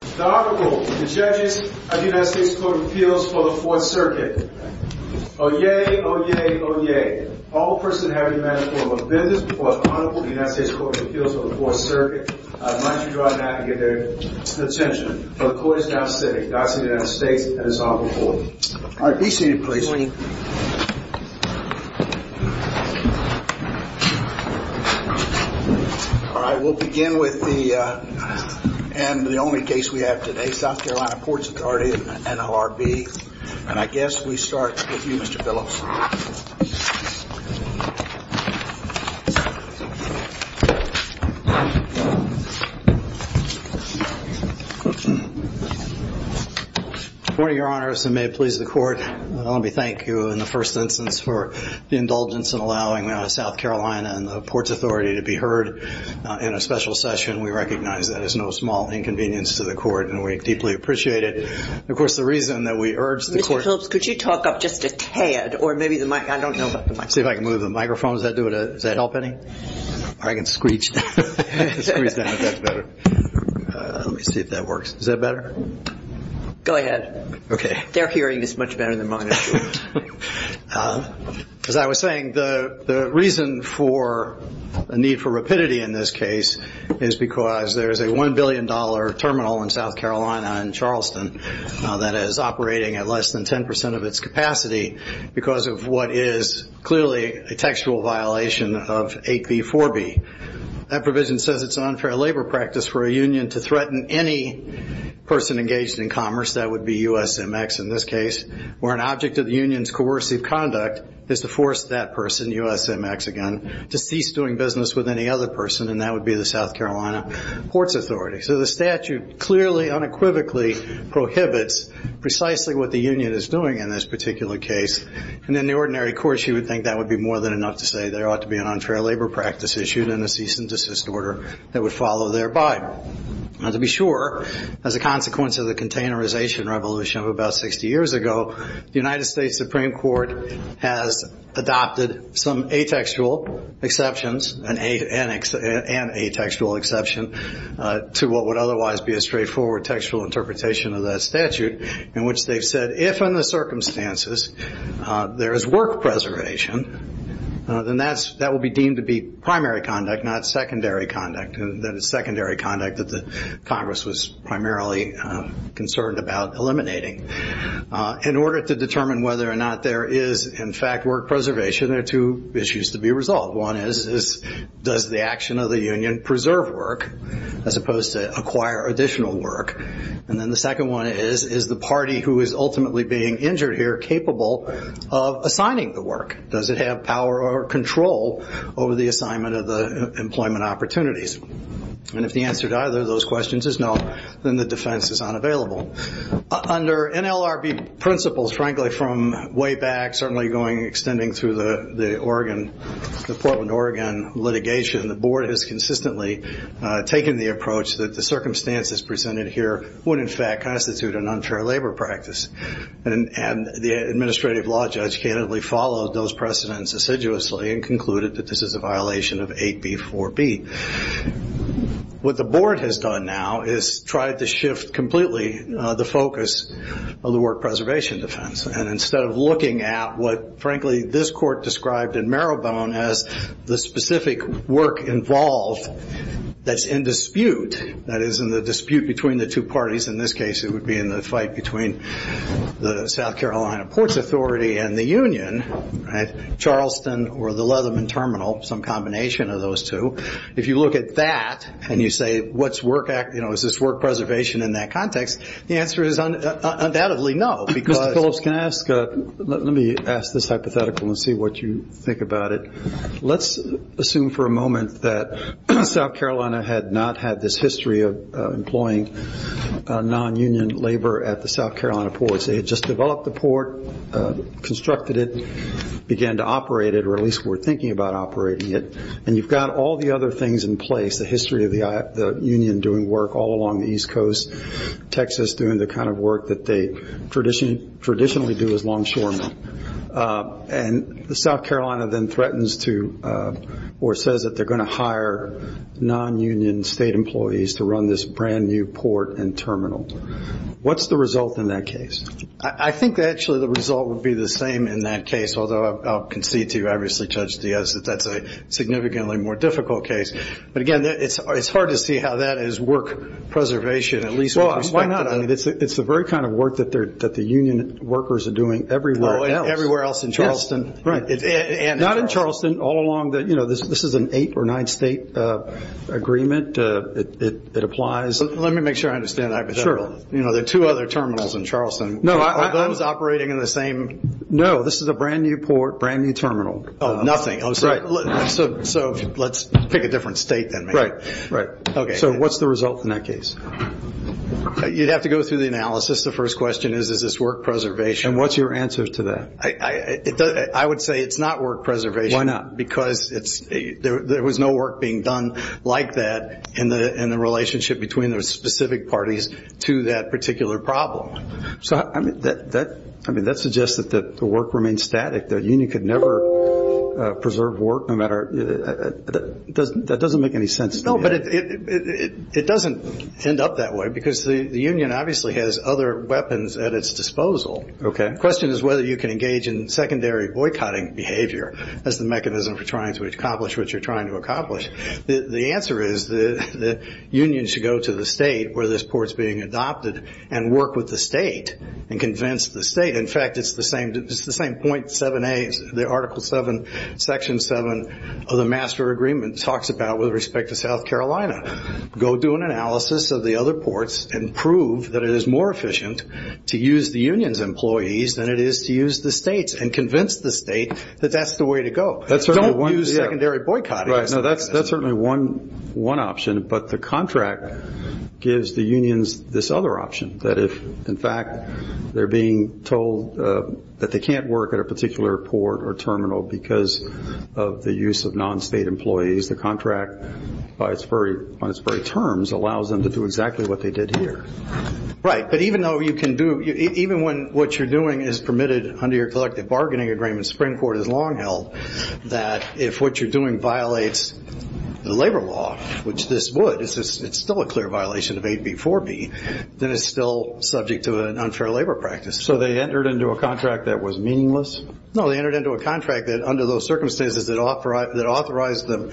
The Honorable, the Judges of the United States Court of Appeals for the 4th Circuit. Oyez, oyez, oyez. All persons having a matter of offensiveness before the Honorable of the United States Court of Appeals for the 4th Circuit, I'd like you to go out and get their attention. The Court is now sitting. Godspeed to the United States and His Honorable Court. All right, be seated please. All right, we'll begin with the only case we have today, South Carolina Ports Authority, NLRB. And I guess we start with you, Mr. Phillips. Good morning, Your Honors, and may it please the Court. Let me thank you in the first instance for the indulgence in allowing South Carolina and the Ports Authority to be heard in a special session. We recognize that as no small inconvenience to the Court, and we deeply appreciate it. Mr. Phillips, could you talk up just a tad, or maybe the mic? I don't know about the mic. See if I can move the microphone. Does that help any? Or I can screech. Let me see if that works. Is that better? Go ahead. Okay. Their hearing is much better than mine. As I was saying, the reason for the need for rapidity in this case is because there is a $1 billion terminal in South Carolina in Charleston that is operating at less than 10% of its capacity because of what is clearly a textual violation of 8b4b. That provision says it's an unfair labor practice for a union to threaten any person engaged in commerce, that would be USMX in this case, where an object of the union's coercive conduct is to force that person, USMX again, to cease doing business with any other person, and that would be the South Carolina Ports Authority. So the statute clearly unequivocally prohibits precisely what the union is doing in this particular case. And in the ordinary course, you would think that would be more than enough to say there ought to be an unfair labor practice issued and a cease and desist order that would follow thereby. To be sure, as a consequence of the containerization revolution of about 60 years ago, the United States Supreme Court has adopted some atextual exceptions and an atextual exception to what would otherwise be a straightforward textual interpretation of that statute, in which they've said if in the circumstances there is work preservation, then that will be deemed to be primary conduct, not secondary conduct, and that is secondary conduct that Congress was primarily concerned about eliminating. In order to determine whether or not there is, in fact, work preservation, there are two issues to be resolved. One is, does the action of the union preserve work as opposed to acquire additional work? And then the second one is, is the party who is ultimately being injured here capable of assigning the work? Does it have power or control over the assignment of the employment opportunities? And if the answer to either of those questions is no, then the defense is unavailable. Under NLRB principles, frankly, from way back, certainly extending through the Portland, Oregon litigation, the board has consistently taken the approach that the circumstances presented here would, in fact, constitute an unfair labor practice. And the administrative law judge candidly followed those precedents assiduously and concluded that this is a violation of 8B4B. What the board has done now is tried to shift completely the focus of the work preservation defense. And instead of looking at what, frankly, this court described in Marrowbone as the specific work involved that's in dispute, that is in the dispute between the two parties, in this case it would be in the fight between the South Carolina Ports Authority and the union, Charleston or the Leatherman Terminal, some combination of those two. If you look at that and you say, is this work preservation in that context, the answer is undoubtedly no. Mr. Phillips, let me ask this hypothetical and see what you think about it. Let's assume for a moment that South Carolina had not had this history of employing non-union labor at the South Carolina ports. They had just developed the port, constructed it, began to operate it, or at least were thinking about operating it. And you've got all the other things in place, the history of the union doing work all along the East Coast, Texas doing the kind of work that they traditionally do as longshoremen. And South Carolina then threatens to or says that they're going to hire non-union state employees to run this brand-new port and terminal. What's the result in that case? I think actually the result would be the same in that case, although I'll concede to you, obviously, Judge Diaz, that that's a significantly more difficult case. But again, it's hard to see how that is work preservation, at least with respect to... Well, why not? I mean, it's the very kind of work that the union workers are doing everywhere else. Everywhere else in Charleston. Not in Charleston. All along, this is an eight or nine state agreement. It applies. Let me make sure I understand that hypothetical. There are two other terminals in Charleston. Are those operating in the same... No, this is a brand-new port, brand-new terminal. Oh, nothing. Right. So let's pick a different state then, maybe. Right. Okay. So what's the result in that case? You'd have to go through the analysis. The first question is, is this work preservation? And what's your answer to that? I would say it's not work preservation. Why not? Because there was no work being done like that in the relationship between those specific parties to that particular problem. I mean, that suggests that the work remains static. The union could never preserve work no matter... that doesn't make any sense to me. No, but it doesn't end up that way because the union obviously has other weapons at its disposal. Okay. The question is whether you can engage in secondary boycotting behavior as the mechanism for trying to accomplish what you're trying to accomplish. The answer is the union should go to the state where this port's being adopted and work with the state and convince the state. In fact, it's the same .7A, the Article 7, Section 7 of the Master Agreement talks about with respect to South Carolina. Go do an analysis of the other ports and prove that it is more efficient to use the union's employees than it is to use the state's and convince the state that that's the way to go. That's certainly one... Don't use secondary boycotting. Right, no, that's certainly one option, but the contract gives the unions this other option, that if, in fact, they're being told that they can't work at a particular port or terminal because of the use of non-state employees, the contract, on its very terms, allows them to do exactly what they did here. Right, but even though you can do... even when what you're doing is permitted under your collective bargaining agreement, Springport has long held that if what you're doing violates the labor law, which this would, it's still a clear violation of 8B4B, then it's still subject to an unfair labor practice. So they entered into a contract that was meaningless? No, they entered into a contract that, under those circumstances, that authorized them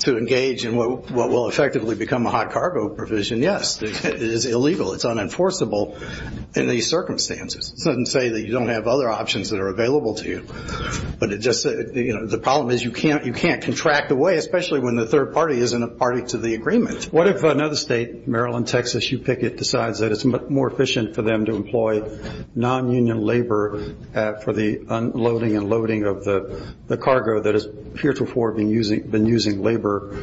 to engage in what will effectively become a hot cargo provision. Yes, it is illegal. It's unenforceable in these circumstances. It doesn't say that you don't have other options that are available to you. But it just, you know, the problem is you can't contract away, especially when the third party isn't a party to the agreement. What if another state, Maryland, Texas, you pick it, decides that it's more efficient for them to employ non-union labor for the unloading and loading of the cargo that has heretofore been using labor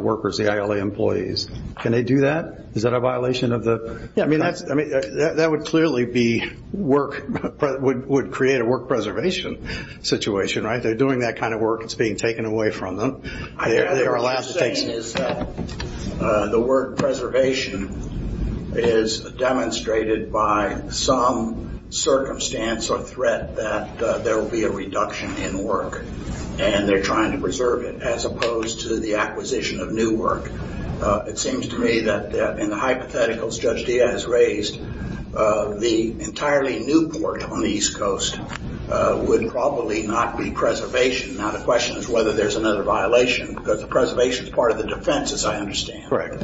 workers, the ILA employees? Can they do that? Is that a violation of the... I mean, that would clearly be work, would create a work preservation situation, right? They're doing that kind of work. It's being taken away from them. They are allowed to take... What I'm saying is that the word preservation is demonstrated by some circumstance or threat that there will be a reduction in work, and they're trying to preserve it as opposed to the acquisition of new work. It seems to me that in the hypotheticals Judge Diaz raised, the entirely new port on the East Coast would probably not be preservation. Now, the question is whether there's another violation, because the preservation is part of the defense, as I understand. Correct.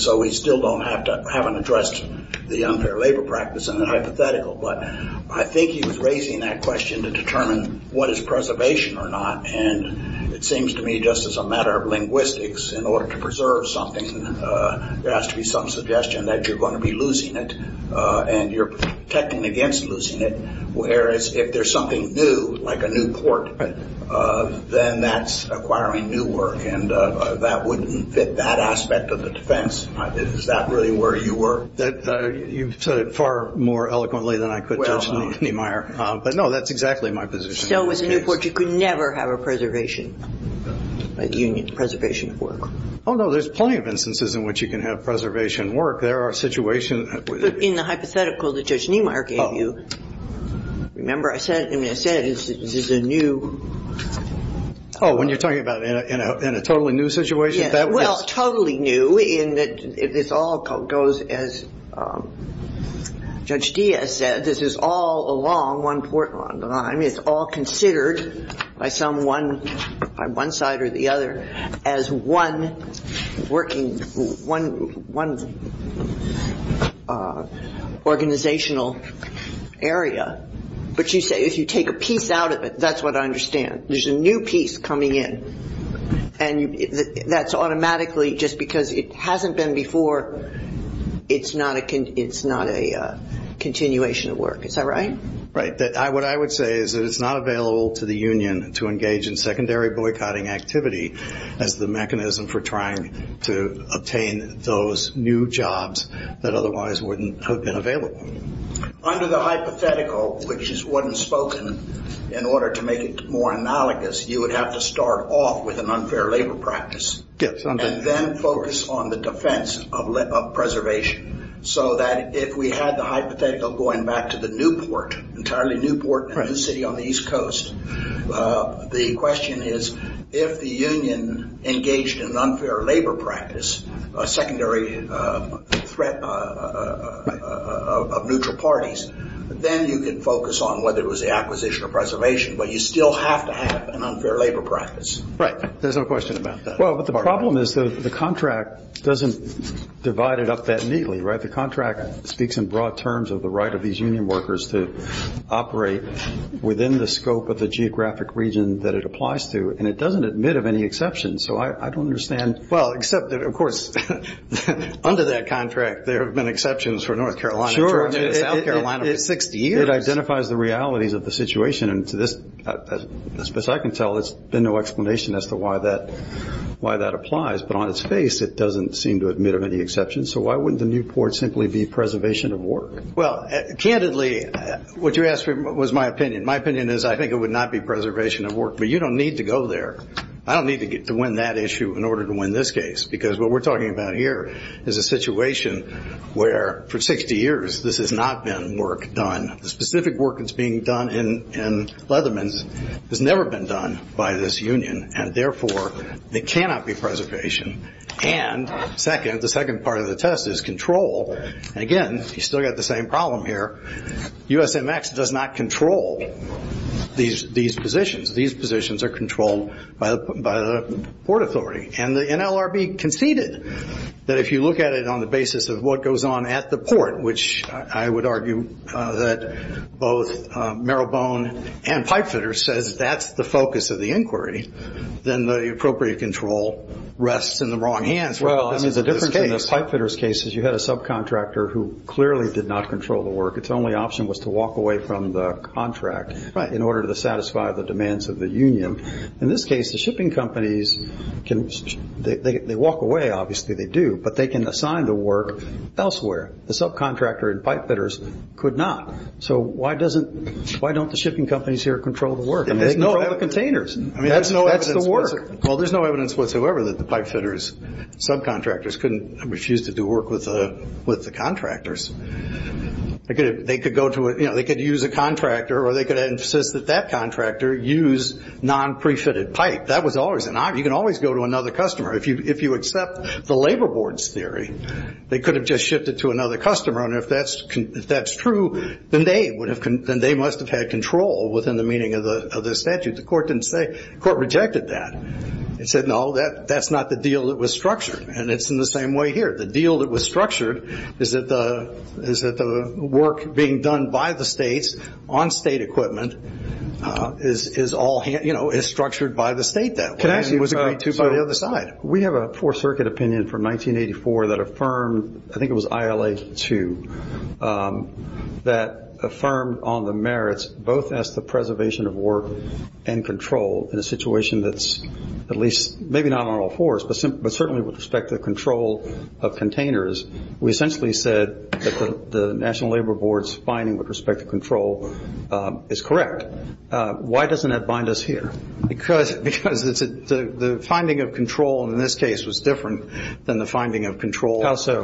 So we still don't have to... haven't addressed the unfair labor practice in the hypothetical. But I think he was raising that question to determine what is preservation or not, and it seems to me just as a matter of linguistics, in order to preserve something, there has to be some suggestion that you're going to be losing it, and you're technically against losing it. Whereas if there's something new, like a new port, then that's acquiring new work, and that wouldn't fit that aspect of the defense. Is that really where you were? You've said it far more eloquently than I could, Judge Niemeyer. But, no, that's exactly my position. If so, with a new port, you could never have a preservation union, preservation of work. Oh, no, there's plenty of instances in which you can have preservation work. There are situations... But in the hypothetical that Judge Niemeyer gave you, remember, I said this is a new... Oh, when you're talking about in a totally new situation? Yes, well, totally new in that this all goes, as Judge Diaz said, this is all along one port line. It's all considered by one side or the other as one working, one organizational area. But you say if you take a piece out of it, that's what I understand. There's a new piece coming in. And that's automatically just because it hasn't been before, it's not a continuation of work. Is that right? Right. What I would say is that it's not available to the union to engage in secondary boycotting activity as the mechanism for trying to obtain those new jobs that otherwise wouldn't have been available. Under the hypothetical, which wasn't spoken, in order to make it more analogous, you would have to start off with an unfair labor practice. Yes. And then focus on the defense of preservation. So that if we had the hypothetical going back to the new port, entirely new port, a new city on the East Coast, the question is, if the union engaged in an unfair labor practice, a secondary threat of neutral parties, then you could focus on whether it was the acquisition or preservation. But you still have to have an unfair labor practice. Right. There's no question about that. Well, but the problem is the contract doesn't divide it up that neatly, right? The contract speaks in broad terms of the right of these union workers to operate within the scope of the geographic region that it applies to. And it doesn't admit of any exceptions. So I don't understand. Well, except, of course, under that contract there have been exceptions for North Carolina, Georgia, and South Carolina for 60 years. It identifies the realities of the situation. And to this, as best I can tell, there's been no explanation as to why that applies. But on its face, it doesn't seem to admit of any exceptions. So why wouldn't the new port simply be preservation of work? Well, candidly, what you asked for was my opinion. My opinion is I think it would not be preservation of work. But you don't need to go there. I don't need to win that issue in order to win this case. Because what we're talking about here is a situation where for 60 years this has not been work done. The specific work that's being done in Leatherman's has never been done by this union. And, therefore, it cannot be preservation. And, second, the second part of the test is control. And, again, you've still got the same problem here. USMX does not control these positions. These positions are controlled by the Port Authority. And the NLRB conceded that if you look at it on the basis of what goes on at the port, which I would argue that both Marylbone and Pipefitter says that's the focus of the inquiry, then the appropriate control rests in the wrong hands. Well, I mean, the difference in the Pipefitter's case is you had a subcontractor who clearly did not control the work. Its only option was to walk away from the contract in order to satisfy the demands of the union. In this case, the shipping companies can walk away. Obviously, they do. But they can assign the work elsewhere. The subcontractor in Pipefitter's could not. So why don't the shipping companies here control the work? They control the containers. That's the work. Well, there's no evidence whatsoever that the Pipefitter's subcontractors refused to do work with the contractors. They could use a contractor or they could insist that that contractor use non-prefitted pipe. That was always an option. You can always go to another customer. If you accept the labor board's theory, they could have just shipped it to another customer. And if that's true, then they must have had control within the meaning of the statute. The court rejected that. It said, no, that's not the deal that was structured. And it's in the same way here. The deal that was structured is that the work being done by the states on state equipment is structured by the state that way. It was agreed to by the other side. We have a Fourth Circuit opinion from 1984 that affirmed, I think it was ILA 2, that affirmed on the merits both as to preservation of work and control in a situation that's at least, maybe not on all fours, but certainly with respect to the control of containers. We essentially said that the National Labor Board's finding with respect to control is correct. Why doesn't that bind us here? Because the finding of control in this case was different than the finding of control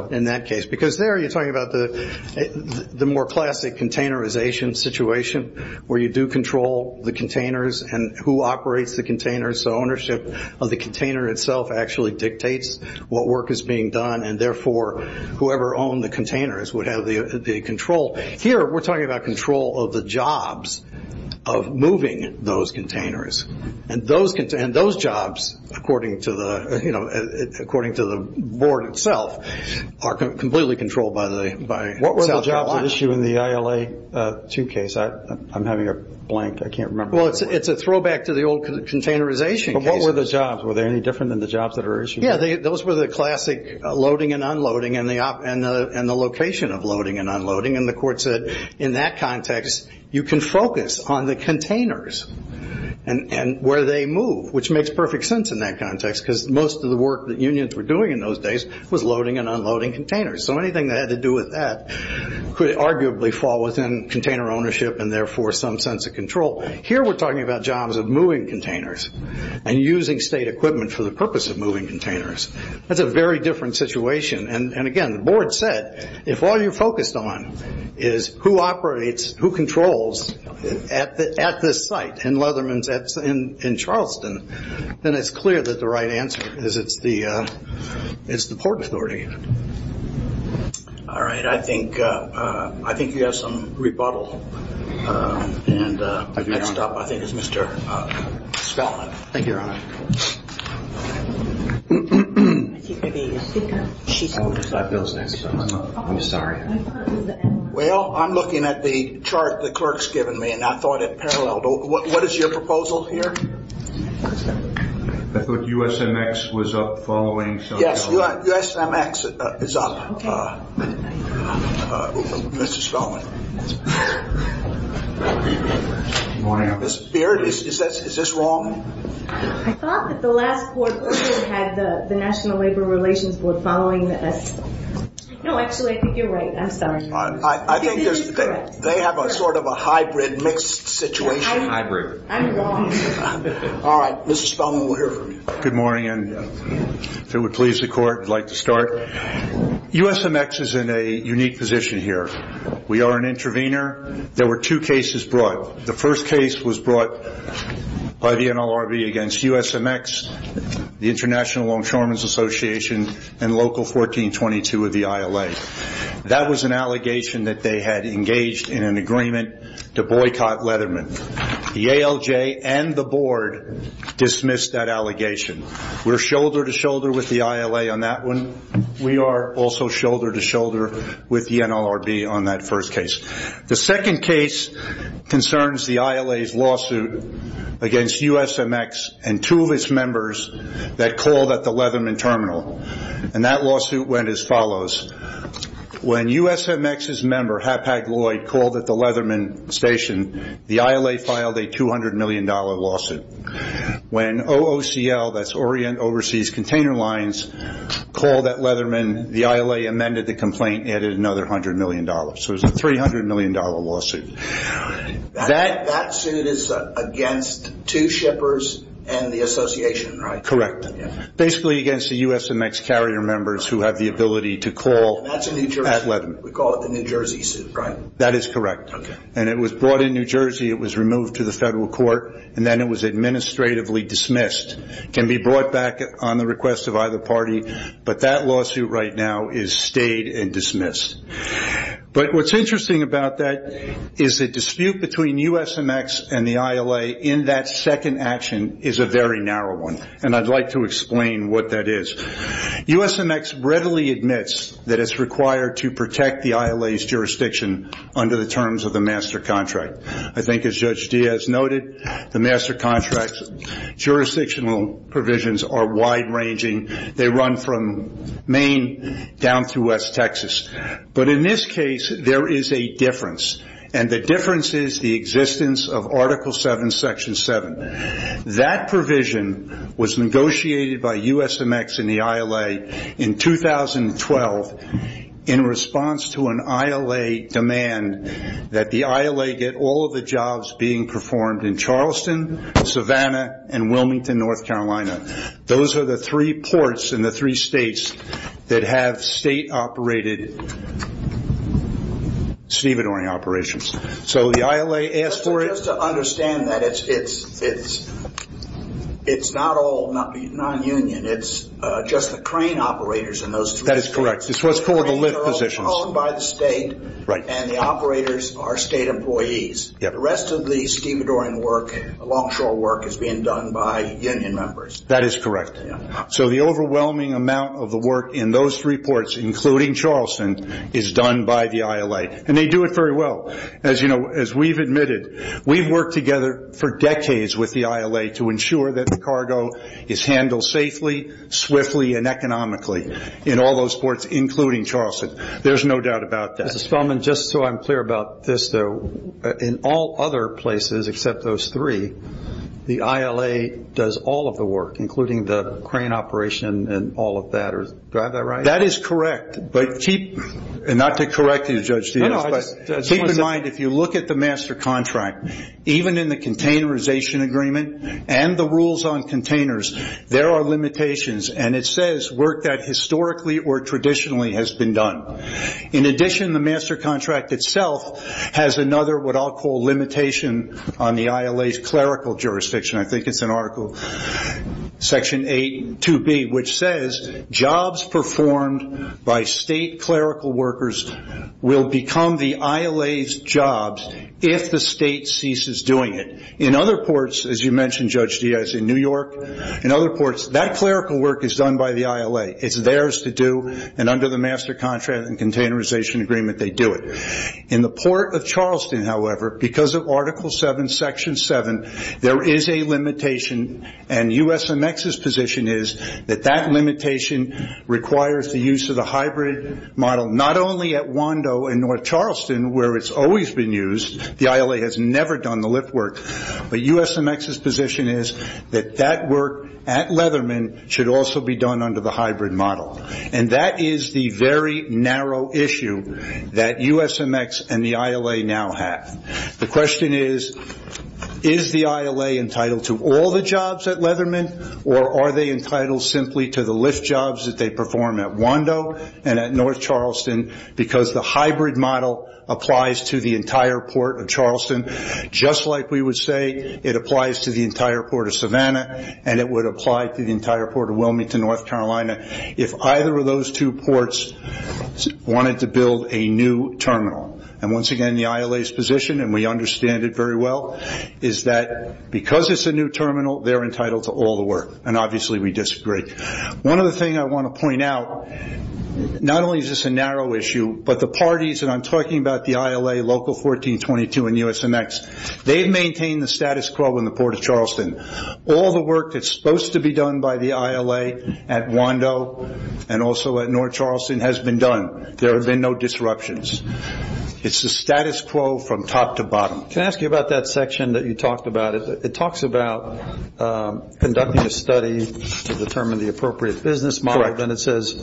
in that case. Because there you're talking about the more classic containerization situation where you do control the containers and who operates the containers. So ownership of the container itself actually dictates what work is being done, and therefore whoever owned the containers would have the control. Here we're talking about control of the jobs of moving those containers. And those jobs, according to the board itself, are completely controlled by South Carolina. What were the jobs at issue in the ILA 2 case? I'm having a blank. I can't remember. Well, it's a throwback to the old containerization cases. But what were the jobs? Were they any different than the jobs that were issued? Yeah, those were the classic loading and unloading and the location of loading and unloading and the court said in that context you can focus on the containers and where they move, which makes perfect sense in that context because most of the work that unions were doing in those days was loading and unloading containers. So anything that had to do with that could arguably fall within container ownership and therefore some sense of control. Here we're talking about jobs of moving containers and using state equipment for the purpose of moving containers. That's a very different situation. And, again, the board said if all you're focused on is who operates, who controls at this site in Leatherman's in Charleston, then it's clear that the right answer is it's the Port Authority. All right. I think you have some rebuttal. And next up I think is Mr. Spelman. Thank you, Your Honor. Well, I'm looking at the chart the clerk's given me and I thought it paralleled. What is your proposal here? I thought USMX was up following. Yes, USMX is up, Mr. Spelman. Is this wrong? I thought that the last board had the National Labor Relations Board following this. No, actually, I think you're right. I'm sorry. I think they have sort of a hybrid, mixed situation. Hybrid. I'm wrong. All right. Mr. Spelman, we'll hear from you. Good morning, and if it would please the Court, I'd like to start. USMX is in a unique position here. We are an intervener. There were two cases brought. The first case was brought by the NLRB against USMX, the International Longshoremen's Association, and Local 1422 of the ILA. That was an allegation that they had engaged in an agreement to boycott Leatherman. The ALJ and the board dismissed that allegation. We're shoulder-to-shoulder with the ILA on that one. We are also shoulder-to-shoulder with the NLRB on that first case. The second case concerns the ILA's lawsuit against USMX and two of its members that called at the Leatherman terminal, and that lawsuit went as follows. When USMX's member, Hapag-Lloyd, called at the Leatherman station, the ILA filed a $200 million lawsuit. When OOCL, that's Orient Overseas Container Lines, called at Leatherman, the ILA amended the complaint and added another $100 million. So it was a $300 million lawsuit. That suit is against two shippers and the association, right? Correct. Basically against the USMX carrier members who have the ability to call at Leatherman. We call it the New Jersey suit, right? That is correct. And it was brought in New Jersey, it was removed to the federal court, and then it was administratively dismissed. It can be brought back on the request of either party, but that lawsuit right now is stayed and dismissed. But what's interesting about that is the dispute between USMX and the ILA in that second action is a very narrow one, and I'd like to explain what that is. USMX readily admits that it's required to protect the ILA's jurisdiction under the terms of the master contract. I think, as Judge Diaz noted, the master contract's jurisdictional provisions are wide-ranging. They run from Maine down through West Texas. But in this case, there is a difference, and the difference is the existence of Article 7, Section 7. That provision was negotiated by USMX and the ILA in 2012 in response to an ILA demand that the ILA get all of the jobs being performed in Charleston, Savannah, and Wilmington, North Carolina. Those are the three ports in the three states that have state-operated stevedoring operations. Just to understand that, it's not all non-union. It's just the crane operators in those three states. That is correct. It's what's called the lift positions. They're owned by the state, and the operators are state employees. The rest of the stevedoring work, longshore work, is being done by union members. That is correct. So the overwhelming amount of the work in those three ports, including Charleston, is done by the ILA. And they do it very well. As you know, as we've admitted, we've worked together for decades with the ILA to ensure that the cargo is handled safely, swiftly, and economically in all those ports, including Charleston. There's no doubt about that. Mr. Spellman, just so I'm clear about this, though, in all other places except those three, the ILA does all of the work, including the crane operation and all of that. Do I have that right? That is correct. Not to correct you, Judge Diaz, but keep in mind, if you look at the master contract, even in the containerization agreement and the rules on containers, there are limitations. And it says work that historically or traditionally has been done. In addition, the master contract itself has another what I'll call limitation on the ILA's clerical jurisdiction. I think it's in Article 8.2b, which says jobs performed by state clerical workers will become the ILA's jobs if the state ceases doing it. In other ports, as you mentioned, Judge Diaz, in New York, in other ports, that clerical work is done by the ILA. It's theirs to do, and under the master contract and containerization agreement, they do it. In the Port of Charleston, however, because of Article 7, Section 7, there is a limitation, and USMX's position is that that limitation requires the use of the hybrid model, not only at Wando and North Charleston, where it's always been used. The ILA has never done the lift work. But USMX's position is that that work at Leatherman should also be done under the hybrid model. And that is the very narrow issue that USMX and the ILA now have. The question is, is the ILA entitled to all the jobs at Leatherman, or are they entitled simply to the lift jobs that they perform at Wando and at North Charleston, because the hybrid model applies to the entire Port of Charleston, just like we would say it applies to the entire Port of Savannah, and it would apply to the entire Port of Wilmington, North Carolina, if either of those two ports wanted to build a new terminal. And once again, the ILA's position, and we understand it very well, is that because it's a new terminal, they're entitled to all the work. And obviously, we disagree. One other thing I want to point out, not only is this a narrow issue, but the parties, and I'm talking about the ILA, Local 1422 and USMX, they've maintained the status quo in the Port of Charleston. All the work that's supposed to be done by the ILA at Wando and also at North Charleston has been done. There have been no disruptions. It's the status quo from top to bottom. Can I ask you about that section that you talked about? It talks about conducting a study to determine the appropriate business model. Correct. Then it says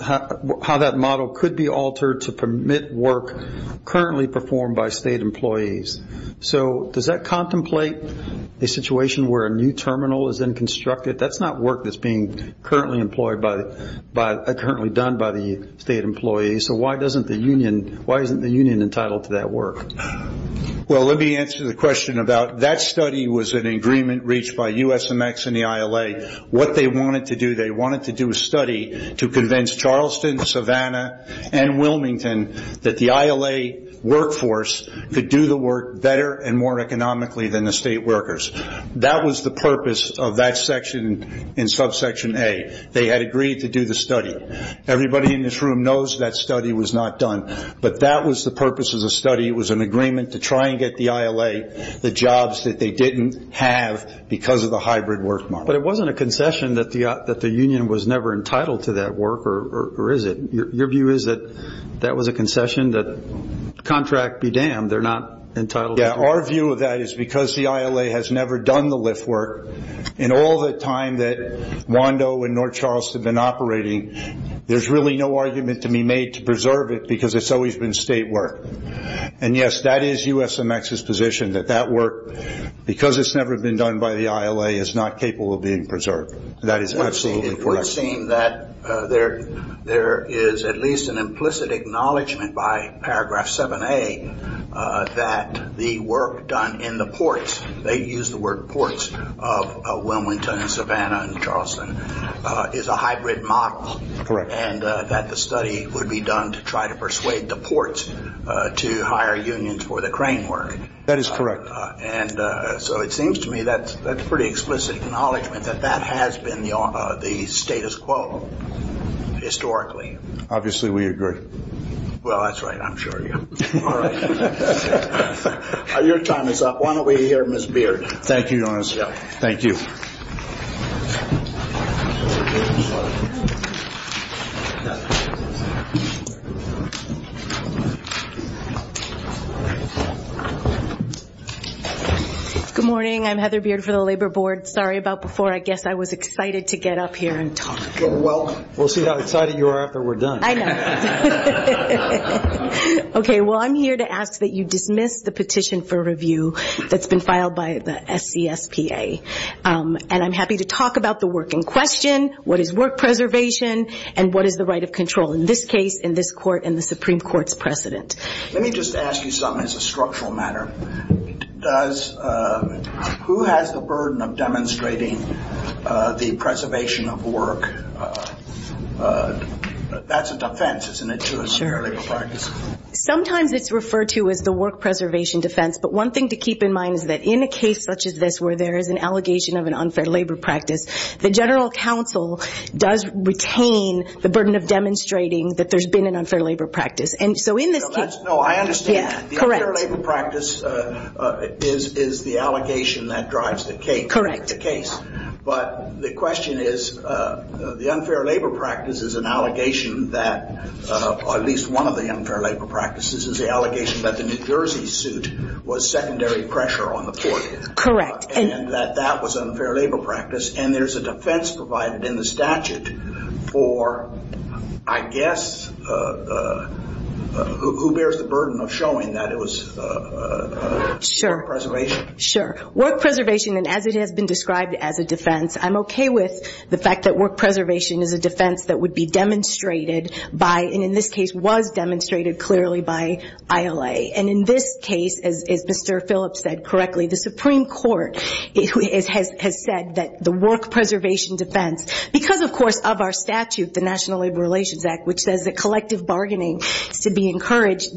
how that model could be altered to permit work currently performed by state employees. So does that contemplate a situation where a new terminal is then constructed? That's not work that's being currently done by the state employees. So why isn't the union entitled to that work? Well, let me answer the question about that study was an agreement reached by USMX and the ILA. What they wanted to do, they wanted to do a study to convince Charleston, Savannah, and Wilmington that the ILA workforce could do the work better and more economically than the state workers. That was the purpose of that section in subsection A. They had agreed to do the study. Everybody in this room knows that study was not done, but that was the purpose of the study. It was an agreement to try and get the ILA the jobs that they didn't have because of the hybrid work model. But it wasn't a concession that the union was never entitled to that work, or is it? Your view is that that was a concession, that contract be damned, they're not entitled to it. Yeah, our view of that is because the ILA has never done the lift work, in all the time that Wando and North Charleston have been operating, there's really no argument to be made to preserve it because it's always been state work. And, yes, that is USMX's position, that that work, because it's never been done by the ILA, is not capable of being preserved. That is absolutely correct. It would seem that there is at least an implicit acknowledgment by paragraph 7A that the work done in the ports, they use the word ports of Wilmington and Savannah and Charleston, is a hybrid model. Correct. And that the study would be done to try to persuade the ports to hire unions for the crane work. That is correct. And so it seems to me that's a pretty explicit acknowledgment that that has been the status quo historically. Obviously we agree. Well, that's right, I'm sure you are. All right. Your time is up. Why don't we hear Ms. Beard? Thank you, Your Honor. Thank you. Thank you. Good morning. I'm Heather Beard for the Labor Board. Sorry about before. I guess I was excited to get up here and talk. Well, we'll see how excited you are after we're done. I know. Okay. Well, I'm here to ask that you dismiss the petition for review that's been filed by the SCSPA. And I'm happy to talk about the work in question, what is work preservation, and what is the right of control. In this case, in this court, in the Supreme Court's precedent. Let me just ask you something as a structural matter. Who has the burden of demonstrating the preservation of work? That's a defense, isn't it, to a unfair labor practice? Sure. Sometimes it's referred to as the work preservation defense. But one thing to keep in mind is that in a case such as this where there is an allegation of an unfair labor practice, the general counsel does retain the burden of demonstrating that there's been an unfair labor practice. And so in this case. No, I understand. Yeah, correct. The unfair labor practice is the allegation that drives the case. Correct. But the question is, the unfair labor practice is an allegation that, or at least one of the unfair labor practices is the allegation that the New Jersey suit was secondary pressure on the court. Correct. And that that was an unfair labor practice. And there's a defense provided in the statute for, I guess, who bears the burden of showing that it was work preservation? Sure. Work preservation, and as it has been described as a defense, I'm okay with the fact that work preservation is a defense that would be demonstrated by, and in this case was demonstrated clearly by, ILA. And in this case, as Mr. Phillips said correctly, the Supreme Court has said that the work preservation defense, because, of course, of our statute, the National Labor Relations Act, which says that collective bargaining is to be encouraged,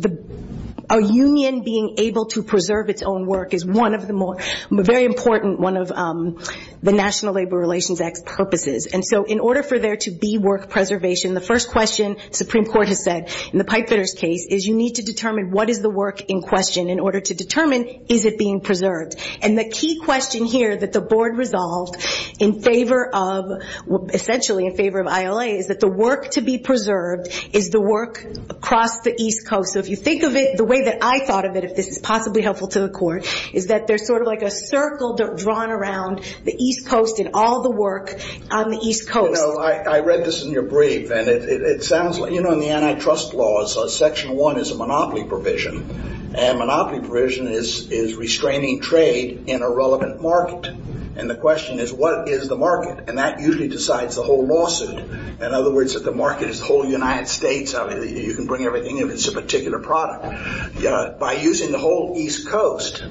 a union being able to preserve its own work is one of the more, a very important one of the National Labor Relations Act's purposes. And so in order for there to be work preservation, the first question the Supreme Court has said in the Pipefitter's case is you need to determine what is the work in question in order to determine is it being preserved. And the key question here that the board resolved in favor of, essentially in favor of ILA, is that the work to be preserved is the work across the East Coast. So if you think of it the way that I thought of it, if this is possibly helpful to the Court, is that there's sort of like a circle drawn around the East Coast and all the work on the East Coast. You know, I read this in your brief, and it sounds like, you know, in the antitrust laws, Section 1 is a monopoly provision, and monopoly provision is restraining trade in a relevant market. And the question is, what is the market? And that usually decides the whole lawsuit. In other words, if the market is the whole United States, you can bring everything in if it's a particular product. By using the whole East Coast,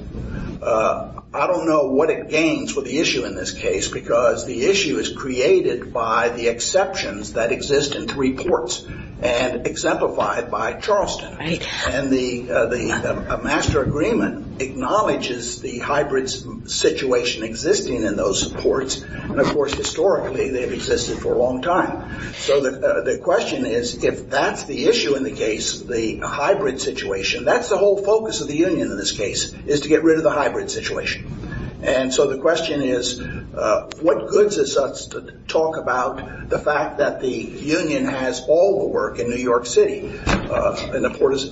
I don't know what it gains with the issue in this case, because the issue is created by the exceptions that exist in three ports and exemplified by Charleston. And the master agreement acknowledges the hybrid situation existing in those ports, and, of course, historically they've existed for a long time. So the question is, if that's the issue in the case, the hybrid situation, that's the whole focus of the union in this case, is to get rid of the hybrid situation. And so the question is, what goods is us to talk about the fact that the union has all the work in New York City, and the port is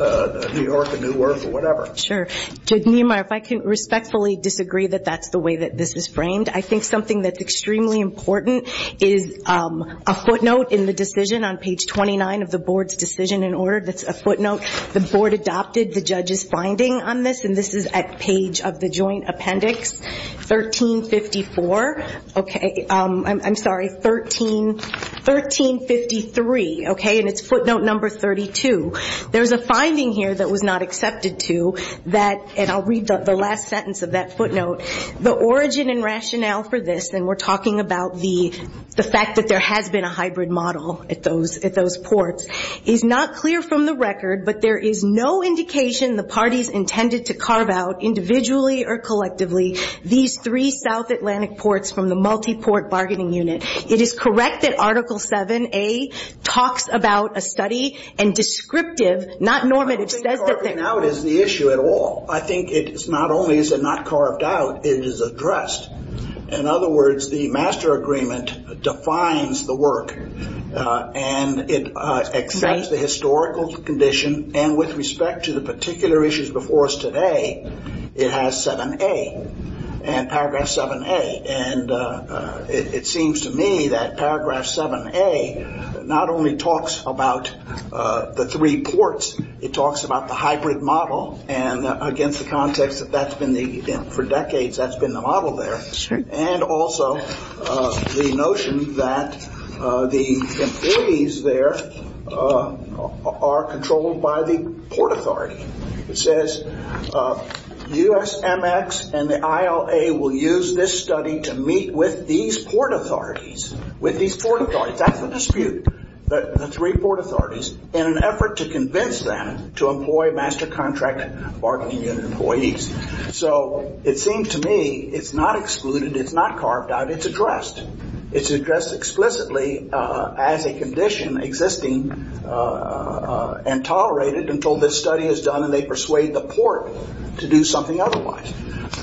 New York, and Newark, or whatever? Sure. Judge Niemeyer, if I can respectfully disagree that that's the way that this is framed, I think something that's extremely important is a footnote in the decision on page 29 of the board's decision in order. That's a footnote. The board adopted the judge's finding on this, and this is at page of the joint appendix, 1354. Okay. I'm sorry, 1353. Okay. And it's footnote number 32. There's a finding here that was not accepted to, and I'll read the last sentence of that footnote. The origin and rationale for this, and we're talking about the fact that there has been a hybrid model at those ports, is not clear from the record, but there is no indication the parties intended to carve out, individually or collectively, these three South Atlantic ports from the multiport bargaining unit. It is correct that Article 7A talks about a study, and descriptive, not normative, says that they're... I don't think carving out is the issue at all. I think it's not only is it not carved out, it is addressed. In other words, the master agreement defines the work, and it accepts the historical condition, and with respect to the particular issues before us today, it has 7A, and paragraph 7A, and it seems to me that paragraph 7A not only talks about the three ports, it talks about the hybrid model, and against the context that that's been the, for decades, that's been the model there. Sure. And also the notion that the employees there are controlled by the port authority. It says USMX and the ILA will use this study to meet with these port authorities, with these port authorities. That's the dispute, the three port authorities, in an effort to convince them to employ master contract bargaining unit employees. So it seems to me it's not excluded, it's not carved out, it's addressed. It's addressed explicitly as a condition existing and tolerated until this study is done, and they persuade the port to do something otherwise.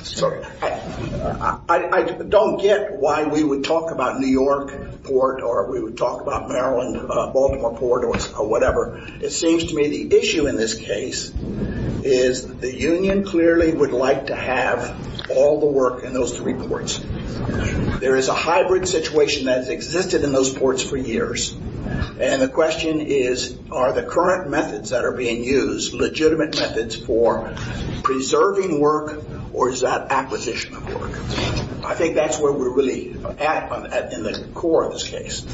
So I don't get why we would talk about New York port, or we would talk about Maryland, Baltimore port, or whatever. It seems to me the issue in this case is the union clearly would like to have all the work in those three ports. There is a hybrid situation that has existed in those ports for years, and the question is are the current methods that are being used legitimate methods for preserving work, or is that acquisition of work? I think that's where we're really at in the core of this case.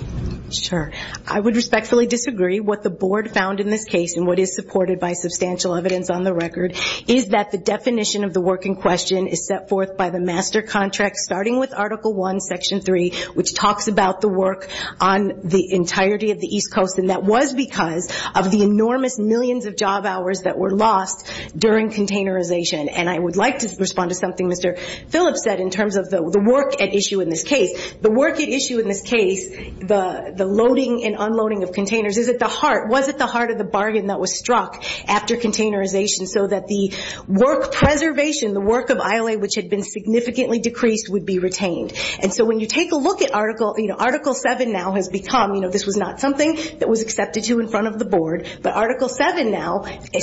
Sure. I would respectfully disagree. What the board found in this case, and what is supported by substantial evidence on the record, is that the definition of the work in question is set forth by the master contract starting with Article I, Section 3, which talks about the work on the entirety of the East Coast, and that was because of the enormous millions of job hours that were lost during containerization. And I would like to respond to something Mr. Phillips said in terms of the work at issue in this case. The work at issue in this case, the loading and unloading of containers, is at the heart, was at the heart of the bargain that was struck after containerization, so that the work preservation, the work of ILA, which had been significantly decreased, would be retained. And so when you take a look at Article 7 now has become, you know, this was not something that was accepted to in front of the board, but Article 7 now,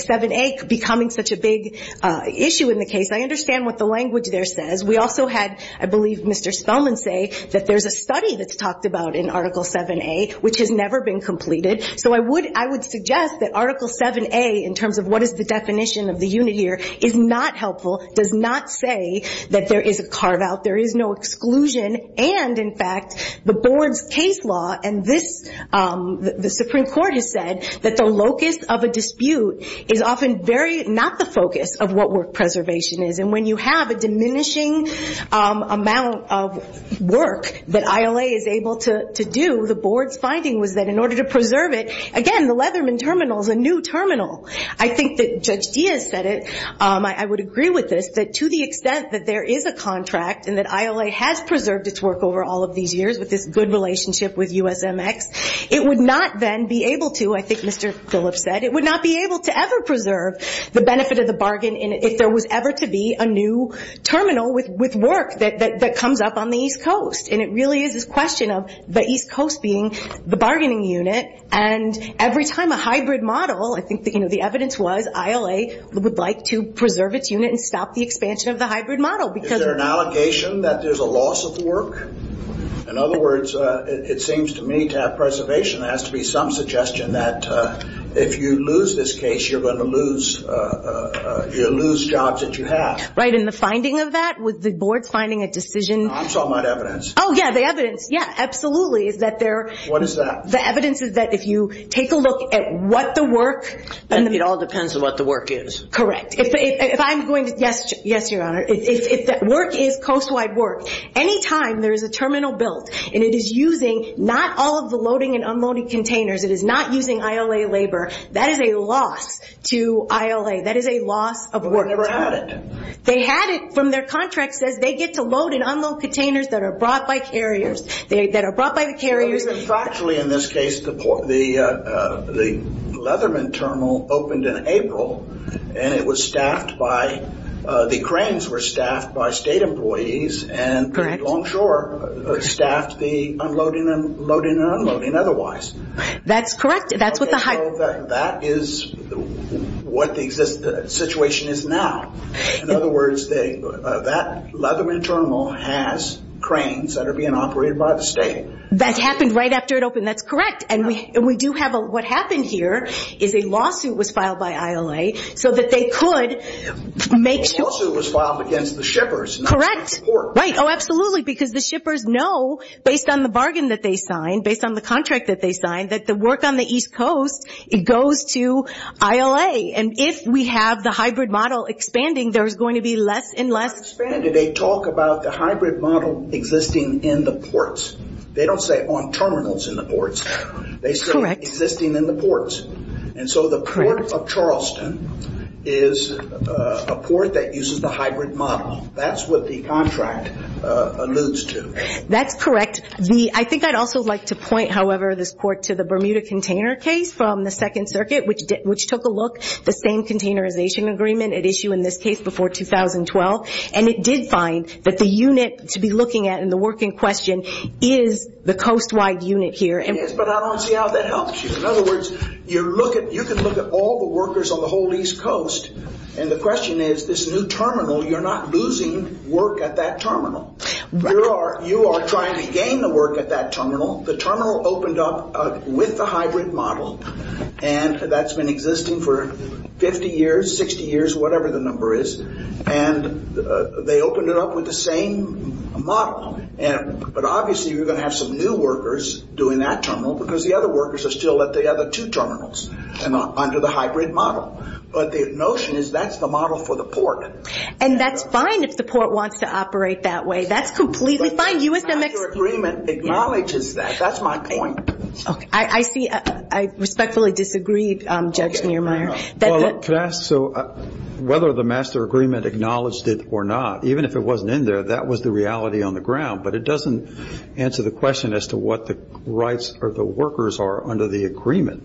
7A becoming such a big issue in the case, I understand what the language there says. We also had, I believe, Mr. Spellman say that there's a study that's talked about in Article 7A, which has never been completed, so I would suggest that Article 7A, in terms of what is the definition of the unit here, is not helpful, does not say that there is a carve-out, there is no exclusion, and in fact, the board's case law, and this, the Supreme Court has said, that the locus of a dispute is often very not the focus of what work preservation is. And when you have a diminishing amount of work that ILA is able to do, the board's finding was that in order to preserve it, again, the Leatherman Terminal is a new terminal. I think that Judge Diaz said it. I would agree with this, that to the extent that there is a contract and that ILA has preserved its work over all of these years with this good relationship with USMX, it would not then be able to, I think Mr. Phillips said, it would not be able to ever preserve the benefit of the bargain if there was ever to be a new terminal with work that comes up on the East Coast. And it really is this question of the East Coast being the bargaining unit, and every time a hybrid model, I think the evidence was ILA would like to preserve its unit and stop the expansion of the hybrid model. Is there an allegation that there's a loss of work? In other words, it seems to me to have preservation, there has to be some suggestion that if you lose this case, you're going to lose jobs that you have. Right, and the finding of that, with the board finding a decision. I'm talking about evidence. Oh, yeah, the evidence, yeah, absolutely, is that there. What is that? The evidence is that if you take a look at what the work. It all depends on what the work is. Correct. If I'm going to, yes, Your Honor, if the work is coast-wide work, any time there is a terminal built and it is using not all of the loading and unloading containers, it is not using ILA labor, that is a loss to ILA. That is a loss of work. But we never had it. They had it from their contract says they get to load and unload containers that are brought by carriers, that are brought by the carriers. In factually, in this case, the Leatherman terminal opened in April, and it was staffed by, the cranes were staffed by state employees. Correct. And Longshore staffed the unloading and loading and unloading otherwise. That's correct. That is what the situation is now. In other words, that Leatherman terminal has cranes that are being operated by the state. That happened right after it opened. That's correct. And we do have a, what happened here is a lawsuit was filed by ILA so that they could make sure. The lawsuit was filed against the shippers, not the port. Correct. Oh, absolutely, because the shippers know, based on the bargain that they signed, based on the contract that they signed, that the work on the East Coast, it goes to ILA. And if we have the hybrid model expanding, there's going to be less and less. Expanded. They talk about the hybrid model existing in the ports. They don't say on terminals in the ports. Correct. They say existing in the ports. And so the port of Charleston is a port that uses the hybrid model. That's what the contract alludes to. That's correct. I think I'd also like to point, however, this court, to the Bermuda container case from the Second Circuit, which took a look, the same containerization agreement at issue in this case before 2012, and it did find that the unit to be looking at in the work in question is the coast-wide unit here. Yes, but I don't see how that helps you. In other words, you can look at all the workers on the whole East Coast, and the question is this new terminal, you're not losing work at that terminal. You are trying to gain the work at that terminal. The terminal opened up with the hybrid model, and that's been existing for 50 years, 60 years, whatever the number is, and they opened it up with the same model. But obviously you're going to have some new workers doing that terminal because the other workers are still at the other two terminals under the hybrid model. And that's fine if the court wants to operate that way. That's completely fine. The master agreement acknowledges that. That's my point. Okay. I see. I respectfully disagree, Judge Neumeier. Can I ask, so whether the master agreement acknowledged it or not, even if it wasn't in there, that was the reality on the ground, but it doesn't answer the question as to what the rights of the workers are under the agreement,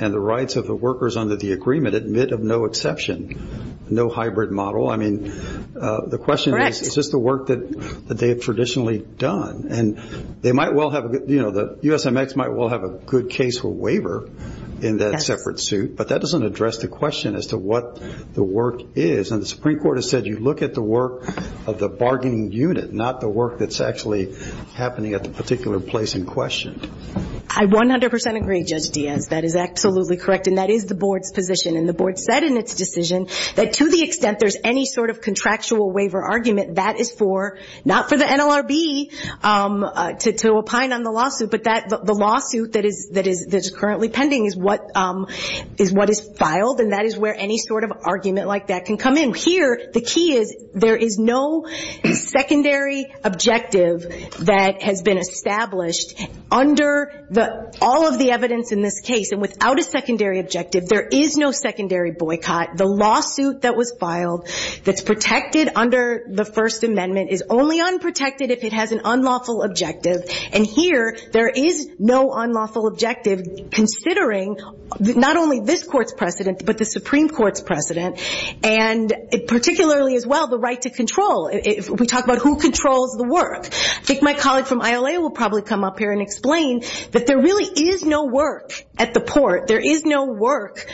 and the rights of the workers under the agreement admit of no exception. I mean, no hybrid model. I mean, the question is, is this the work that they have traditionally done? And they might well have, you know, the USMX might well have a good case for waiver in that separate suit, but that doesn't address the question as to what the work is. And the Supreme Court has said you look at the work of the bargaining unit, not the work that's actually happening at the particular place in question. I 100% agree, Judge Diaz. That is absolutely correct, and that is the Board's position. And the Board said in its decision that to the extent there's any sort of contractual waiver argument, that is for, not for the NLRB to opine on the lawsuit, but the lawsuit that is currently pending is what is filed, and that is where any sort of argument like that can come in. Here, the key is there is no secondary objective that has been established under all of the evidence in this case. And without a secondary objective, there is no secondary boycott. The lawsuit that was filed that's protected under the First Amendment is only unprotected if it has an unlawful objective. And here there is no unlawful objective, considering not only this Court's precedent, but the Supreme Court's precedent, and particularly as well the right to control. We talk about who controls the work. I think my colleague from ILA will probably come up here and explain that there really is no work at the port. There is no work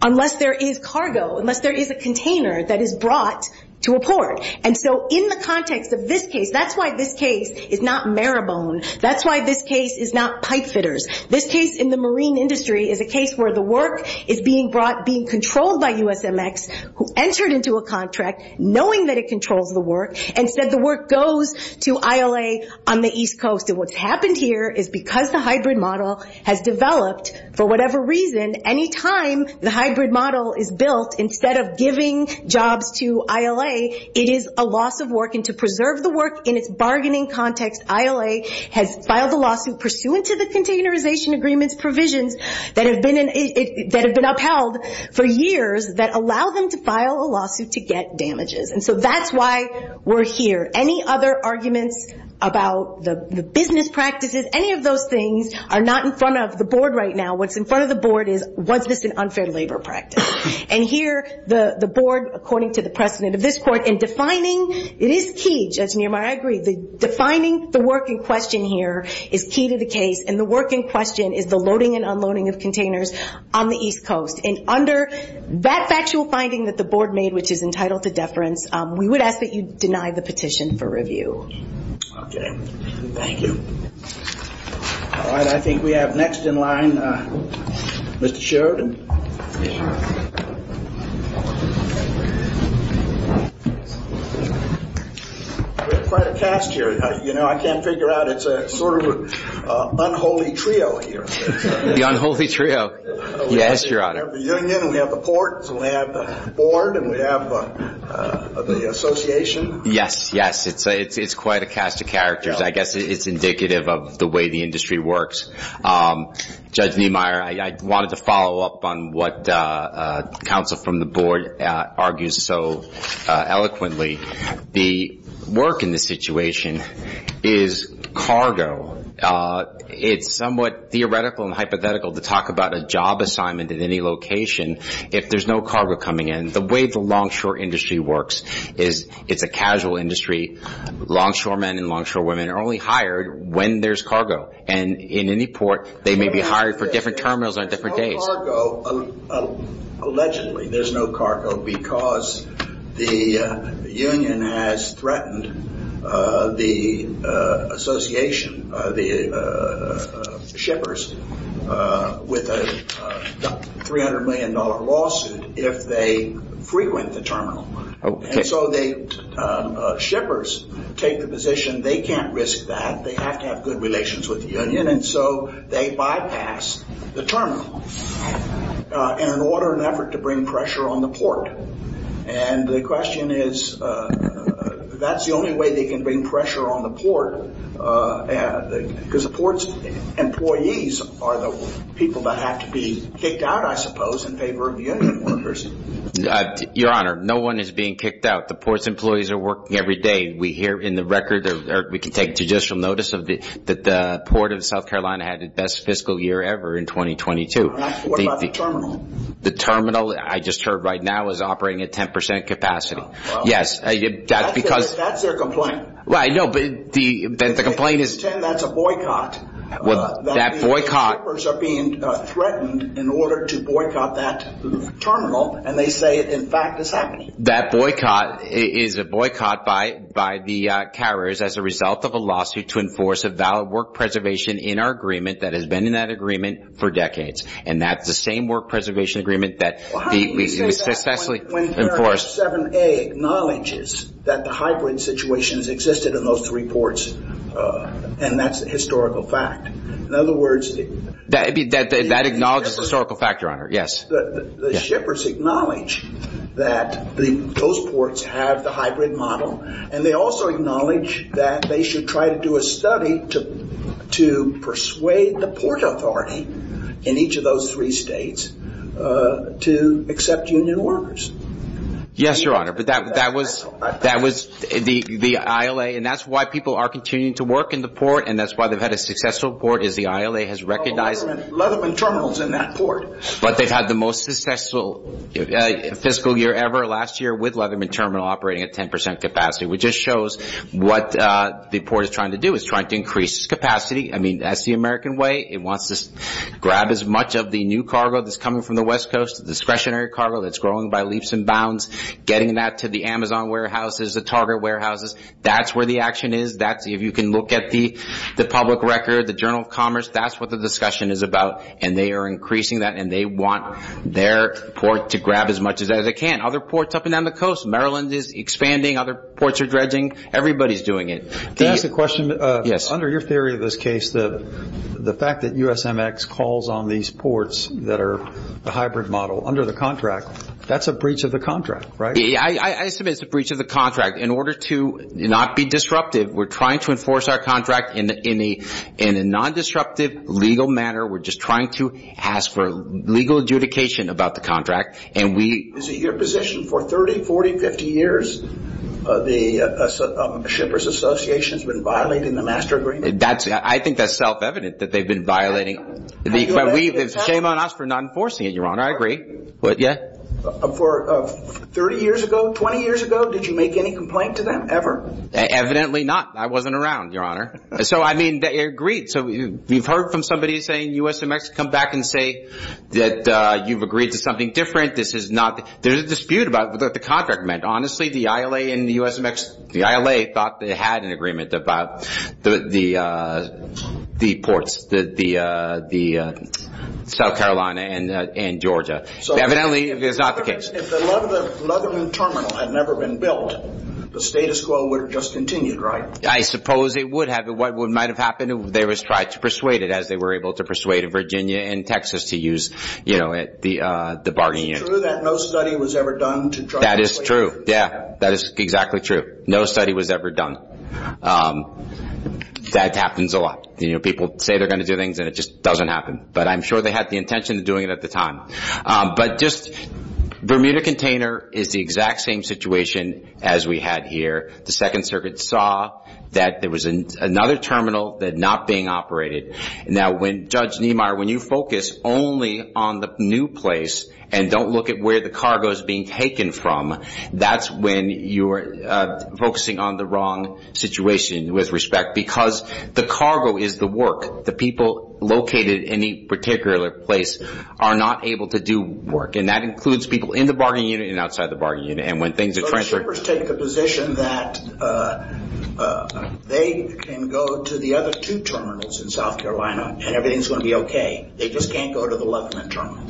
unless there is cargo, unless there is a container that is brought to a port. And so in the context of this case, that's why this case is not Marabone. That's why this case is not pipe fitters. This case in the marine industry is a case where the work is being brought, being controlled by USMX, who entered into a contract knowing that it controls the work, and said the work goes to ILA on the East Coast. And what's happened here is because the hybrid model has developed, for whatever reason, any time the hybrid model is built, instead of giving jobs to ILA, it is a loss of work. And to preserve the work in its bargaining context, ILA has filed a lawsuit pursuant to the containerization agreement's provisions that have been upheld for years that allow them to file a lawsuit to get damages. And so that's why we're here. Any other arguments about the business practices, any of those things, are not in front of the board right now. What's in front of the board is, was this an unfair labor practice? And here the board, according to the precedent of this court, in defining, it is key, Judge Niermeyer, I agree, defining the work in question here is key to the case, and the work in question is the loading and unloading of containers on the East Coast. And under that factual finding that the board made, which is entitled to deference, we would ask that you deny the petition for review. Okay. Thank you. All right, I think we have next in line Mr. Sheridan. We have quite a cast here. You know, I can't figure out, it's a sort of unholy trio here. The unholy trio. Yes, Your Honor. We have the union, we have the port, and we have the board, and we have the association. Yes, yes, it's quite a cast of characters. I guess it's indicative of the way the industry works. Judge Niermeyer, I wanted to follow up on what counsel from the board argues so eloquently. The work in this situation is cargo. It's somewhat theoretical and hypothetical to talk about a job assignment at any location if there's no cargo coming in. The way the longshore industry works is it's a casual industry. Longshoremen and longshorewomen are only hired when there's cargo. And in any port, they may be hired for different terminals on different days. Allegedly, there's no cargo because the union has threatened the association, the shippers, with a $300 million lawsuit if they frequent the terminal. And so the shippers take the position they can't risk that. They have to have good relations with the union, and so they bypass the terminal in an order and effort to bring pressure on the port. And the question is, that's the only way they can bring pressure on the port because the port's employees are the people that have to be kicked out, I suppose, in favor of the union workers. Your Honor, no one is being kicked out. The port's employees are working every day. We hear in the record, or we can take judicial notice, that the Port of South Carolina had the best fiscal year ever in 2022. What about the terminal? The terminal, I just heard right now, is operating at 10 percent capacity. Yes. That's their complaint. No, but the complaint is... That's a boycott. That boycott... The shippers are being threatened in order to boycott that terminal, and they say, in fact, it's happening. That boycott is a boycott by the carriers as a result of a lawsuit to enforce a valid work preservation in our agreement that has been in that agreement for decades. And that's the same work preservation agreement that we successfully enforced. Well, how do you say that when 7A acknowledges that the hybrid situation has existed in those three ports, and that's a historical fact? In other words... That acknowledges the historical fact, Your Honor. Yes. The shippers acknowledge that those ports have the hybrid model, and they also acknowledge that they should try to do a study to persuade the port authority in each of those three states to accept union workers. Yes, Your Honor, but that was the ILA, and that's why people are continuing to work in the port, and that's why they've had a successful port is the ILA has recognized... Leatherman Terminal is in that port. But they've had the most successful fiscal year ever last year with Leatherman Terminal operating at 10% capacity, which just shows what the port is trying to do. It's trying to increase its capacity. I mean, that's the American way. It wants to grab as much of the new cargo that's coming from the West Coast, the discretionary cargo that's growing by leaps and bounds, getting that to the Amazon warehouses, the Target warehouses. That's where the action is. If you can look at the public record, the Journal of Commerce, that's what the discussion is about, and they are increasing that, and they want their port to grab as much as it can. Other ports up and down the coast. Maryland is expanding. Other ports are dredging. Everybody's doing it. Can I ask a question? Yes. Under your theory of this case, the fact that USMX calls on these ports that are the hybrid model under the contract, that's a breach of the contract, right? I assume it's a breach of the contract. In order to not be disruptive, we're trying to enforce our contract in a non-disruptive, legal manner. We're just trying to ask for legal adjudication about the contract. Is it your position for 30, 40, 50 years the Shippers Association has been violating the master agreement? I think that's self-evident that they've been violating. Shame on us for not enforcing it, Your Honor. I agree. For 30 years ago, 20 years ago, did you make any complaint to them ever? Evidently not. I wasn't around, Your Honor. So, I mean, they agreed. So you've heard from somebody saying USMX, come back and say that you've agreed to something different. There's a dispute about what the contract meant. Honestly, the ILA and the USMX, the ILA thought they had an agreement about the ports, the South Carolina and Georgia. Evidently, it's not the case. If the Leatherman Terminal had never been built, the status quo would have just continued, right? I suppose it would have. What might have happened, they would have tried to persuade it, as they were able to persuade Virginia and Texas to use the bargaining unit. That is true. Yeah, that is exactly true. No study was ever done. That happens a lot. You know, people say they're going to do things, and it just doesn't happen. But I'm sure they had the intention of doing it at the time. But just, Bermuda Container is the exact same situation as we had here. The Second Circuit saw that there was another terminal that not being operated. Now, Judge Niemeyer, when you focus only on the new place and don't look at where the cargo is being taken from, that's when you're focusing on the wrong situation with respect, because the cargo is the work. The people located in any particular place are not able to do work. And that includes people in the bargaining unit and outside the bargaining unit. So the shippers take the position that they can go to the other two terminals in South Carolina, and everything is going to be okay. They just can't go to the Leatherman terminal.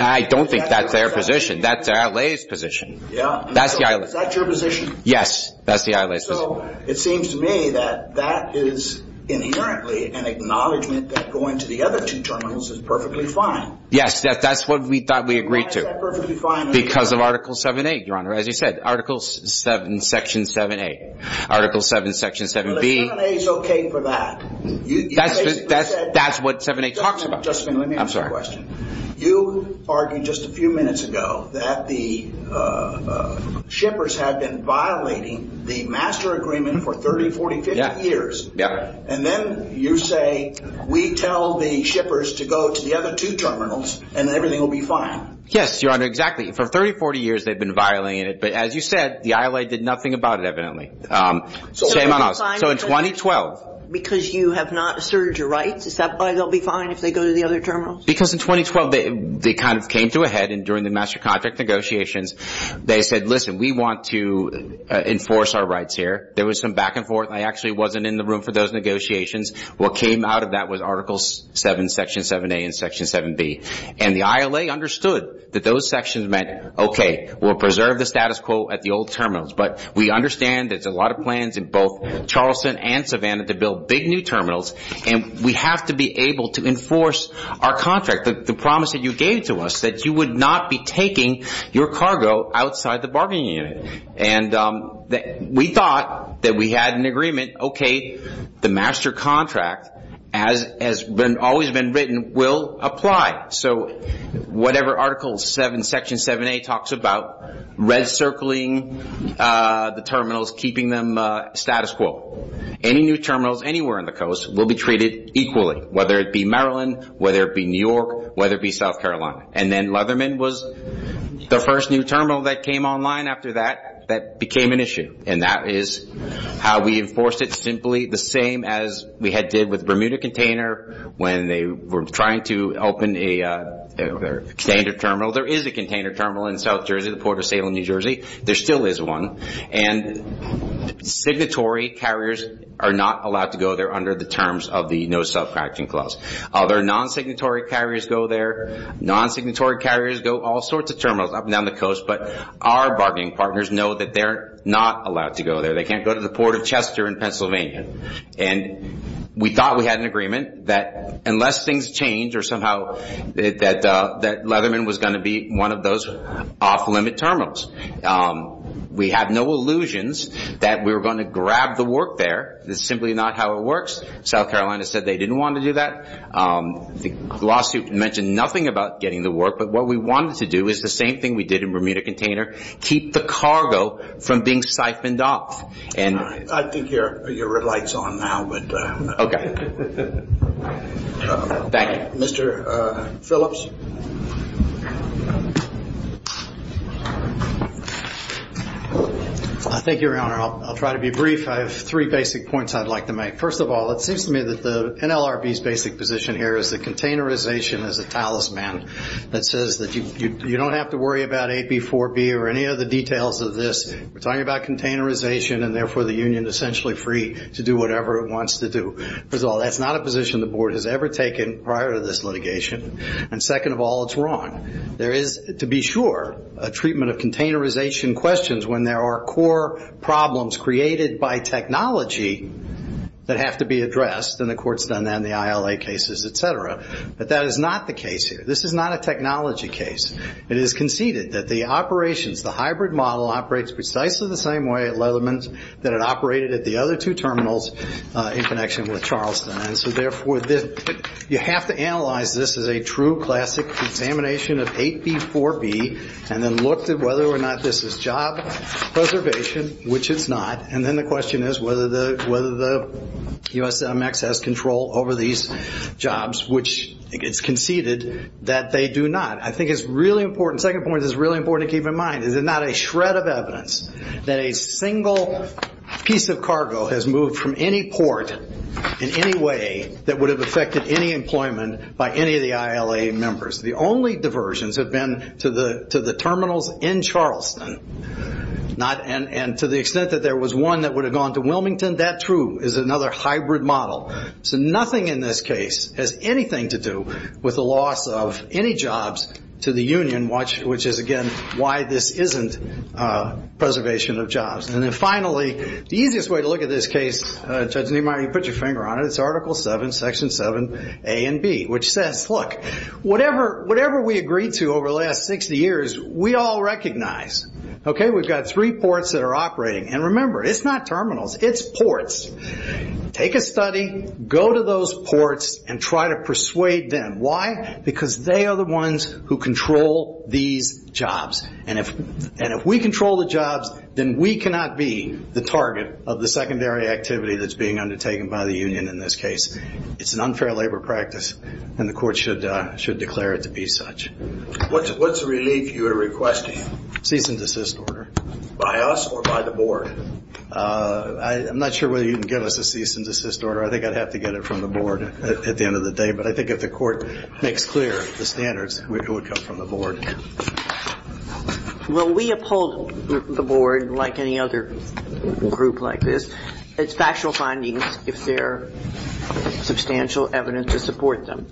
I don't think that's their position. That's the ILA's position. Is that your position? Yes, that's the ILA's position. So it seems to me that that is inherently an acknowledgement that going to the other two terminals is perfectly fine. Yes, that's what we thought we agreed to. Because of Article 7A, Your Honor. As you said, Article 7, Section 7A. Article 7, Section 7B. That's what 7A talks about. Just a minute. I'm sorry. You argued just a few minutes ago that the shippers had been violating the master agreement for 30, 40, 50 years. Yeah. And then you say, we tell the shippers to go to the other two terminals, and everything will be fine. Yes, Your Honor, exactly. For 30, 40 years, they've been violating it. But as you said, the ILA did nothing about it, evidently. So in 2012. Because you have not asserted your rights, is that why they'll be fine if they go to the other terminals? Because in 2012, they kind of came to a head. And during the master contract negotiations, they said, listen, we want to enforce our rights here. There was some back and forth. I actually wasn't in the room for those negotiations. What came out of that was Article 7, Section 7A and Section 7B. And the ILA understood that those sections meant, okay, we'll preserve the status quo at the old terminals. But we understand there's a lot of plans in both Charleston and Savannah to build big new terminals. And we have to be able to enforce our contract, the promise that you gave to us, that you would not be taking your cargo outside the bargaining unit. And we thought that we had an agreement, okay, the master contract, as has always been written, will apply. So whatever Article 7, Section 7A talks about, red circling the terminals, keeping them status quo. Any new terminals anywhere on the coast will be treated equally, whether it be Maryland, whether it be New York, whether it be South Carolina. And then Leatherman was the first new terminal that came online after that that became an issue. And that is how we enforced it, simply the same as we had did with Bermuda container when they were trying to open a standard terminal. There is a container terminal in South Jersey, the Port of Salem, New Jersey. There still is one. And signatory carriers are not allowed to go there under the terms of the no self-contracting clause. Other non-signatory carriers go there. Non-signatory carriers go all sorts of terminals up and down the coast. But our bargaining partners know that they're not allowed to go there. They can't go to the Port of Chester in Pennsylvania. And we thought we had an agreement that unless things change or somehow that Leatherman was going to be one of those off-limit terminals. We have no illusions that we were going to grab the work there. This is simply not how it works. South Carolina said they didn't want to do that. The lawsuit mentioned nothing about getting the work. But what we wanted to do is the same thing we did in Bermuda container, keep the cargo from being siphoned off. I think your red light is on now. Okay. Thank you. Mr. Phillips. Thank you, Your Honor. I'll try to be brief. I have three basic points I'd like to make. First of all, it seems to me that the NLRB's basic position here is that containerization is a talisman that says that you don't have to worry about AB4B or any other details of this. We're talking about containerization and therefore the union is essentially free to do whatever it wants to do. First of all, that's not a position the board has ever taken prior to this litigation. And second of all, it's wrong. There is, to be sure, a treatment of containerization questions when there are core problems created by technology that have to be addressed, and the court's done that in the ILA cases, et cetera. But that is not the case here. This is not a technology case. It is conceded that the operations, the hybrid model operates precisely the same way at Leatherman's that it operated at the other two terminals in connection with Charleston. And so, therefore, you have to analyze this as a true classic examination of AB4B and then look at whether or not this is job preservation, which it's not. And then the question is whether the USMX has control over these jobs, which it's conceded that they do not. I think it's really important. The second point is really important to keep in mind. This is not a shred of evidence that a single piece of cargo has moved from any port in any way that would have affected any employment by any of the ILA members. The only diversions have been to the terminals in Charleston. And to the extent that there was one that would have gone to Wilmington, that, too, is another hybrid model. So nothing in this case has anything to do with the loss of any jobs to the union, which is, again, why this isn't preservation of jobs. And then finally, the easiest way to look at this case, Judge Niemeyer, you put your finger on it, it's Article 7, Section 7A and B, which says, look, whatever we agreed to over the last 60 years, we all recognize. Okay? We've got three ports that are operating. And remember, it's not terminals. It's ports. Take a study, go to those ports, and try to persuade them. Why? Because they are the ones who control these jobs. And if we control the jobs, then we cannot be the target of the secondary activity that's being undertaken by the union in this case. It's an unfair labor practice, and the court should declare it to be such. What's the relief you are requesting? Cease and desist order. By us or by the board? I'm not sure whether you can give us a cease and desist order. I think I'd have to get it from the board at the end of the day. But I think if the court makes clear the standards, it would come from the board. Well, we uphold the board, like any other group like this. It's factual findings, if there's substantial evidence to support them.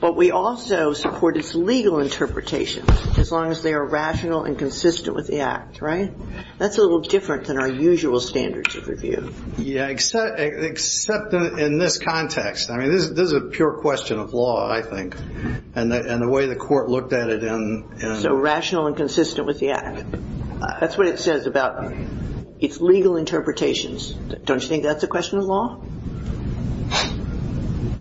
But we also support its legal interpretation, as long as they are rational and consistent with the Act. Right? That's a little different than our usual standards of review. Yeah, except in this context. I mean, this is a pure question of law, I think, and the way the court looked at it. So rational and consistent with the Act. That's what it says about its legal interpretations. Don't you think that's a question of law?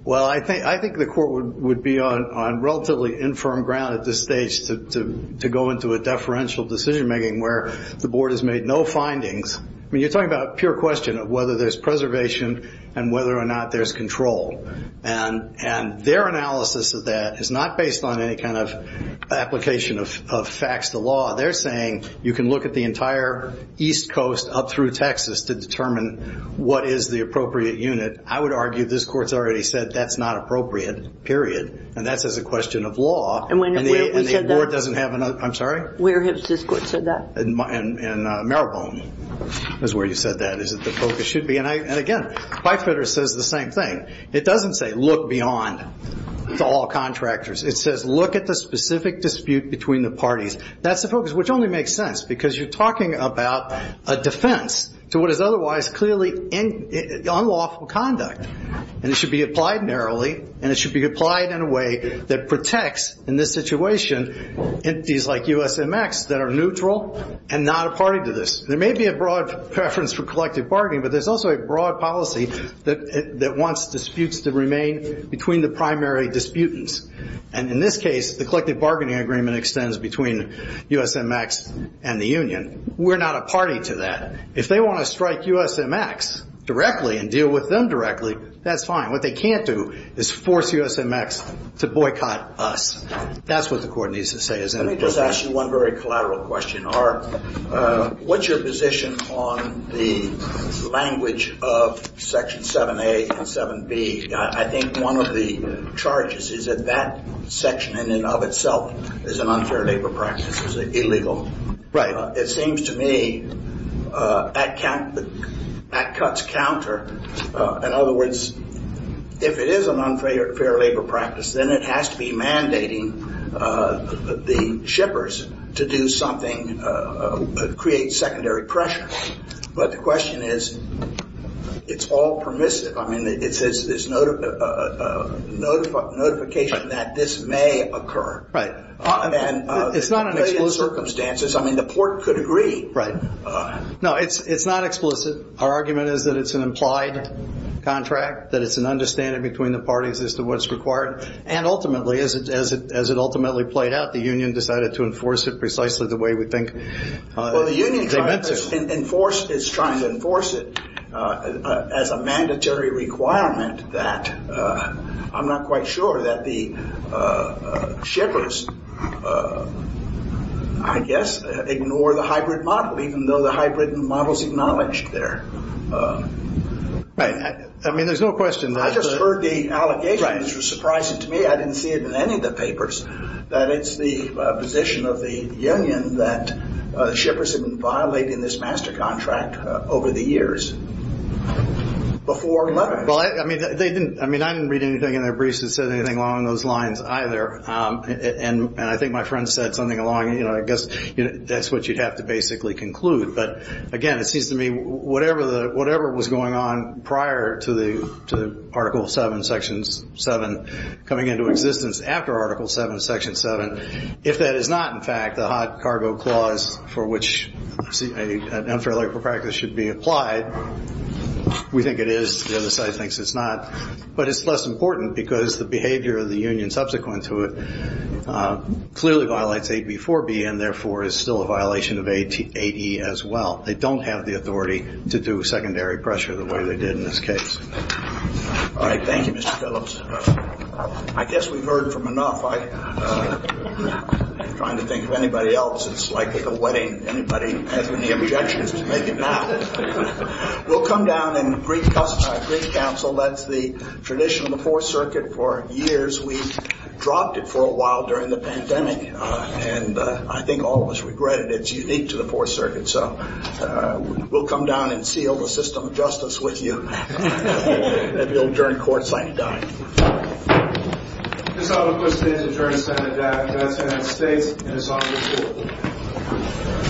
Well, I think the court would be on relatively infirm ground at this stage to go into a deferential decision-making, where the board has made no findings. I mean, you're talking about a pure question of whether there's preservation and whether or not there's control. And their analysis of that is not based on any kind of application of facts to law. They're saying you can look at the entire East Coast up through Texas to determine what is the appropriate unit. I would argue this court's already said that's not appropriate, period. And that's as a question of law. And where have we said that? And the board doesn't have another. I'm sorry? Where has this court said that? In Mariborne is where you said that is that the focus should be. And, again, Beifeder says the same thing. It doesn't say look beyond to all contractors. It says look at the specific dispute between the parties. That's the focus, which only makes sense because you're talking about a defense to what is otherwise clearly unlawful conduct. And it should be applied narrowly, and it should be applied in a way that protects, in this situation, entities like USMX that are neutral and not a party to this. There may be a broad preference for collective bargaining, but there's also a broad policy that wants disputes to remain between the primary disputants. And in this case, the collective bargaining agreement extends between USMX and the union. We're not a party to that. If they want to strike USMX directly and deal with them directly, that's fine. What they can't do is force USMX to boycott us. That's what the court needs to say. Let me just ask you one very collateral question. What's your position on the language of Section 7A and 7B? I think one of the charges is that that section in and of itself is an unfair labor practice. It's illegal. Right. It seems to me at cuts counter, in other words, if it is an unfair labor practice, then it has to be mandating the shippers to do something to create secondary pressure. But the question is, it's all permissive. I mean, it's a notification that this may occur. Right. And the circumstances, I mean, the court could agree. Right. No, it's not explicit. Our argument is that it's an implied contract, that it's an understanding between the parties as to what's required. And ultimately, as it ultimately played out, the union decided to enforce it precisely the way we think they meant to. It's trying to enforce it as a mandatory requirement that I'm not quite sure that the shippers, I guess, ignore the hybrid model, even though the hybrid model is acknowledged there. Right. I mean, there's no question. I just heard the allegations. It was surprising to me. I didn't see it in any of the papers, that it's the position of the union that shippers have been violating this master contract over the years. Well, I mean, I didn't read anything in their briefs that said anything along those lines either. And I think my friend said something along, you know, I guess that's what you'd have to basically conclude. But, again, it seems to me whatever was going on prior to the Article 7, Section 7 coming into existence after Article 7, Section 7, if that is not, in fact, the hot cargo clause for which an unfair labor practice should be applied, we think it is. The other side thinks it's not. But it's less important because the behavior of the union subsequent to it clearly violates 8B4B and, therefore, is still a violation of 8E as well. They don't have the authority to do secondary pressure the way they did in this case. All right. Thank you, Mr. Phillips. I guess we've heard from enough. I'm trying to think of anybody else. It's like at a wedding. Anybody have any objections to make it now? We'll come down and brief counsel. That's the tradition of the Fourth Circuit for years. We dropped it for a while during the pandemic. And I think all of us regret it. It's unique to the Fourth Circuit. So we'll come down and seal the system of justice with you. And if you'll adjourn court, sign it down. I just want to make a quick statement in terms of the death of a judge in the United States. And it's on this board.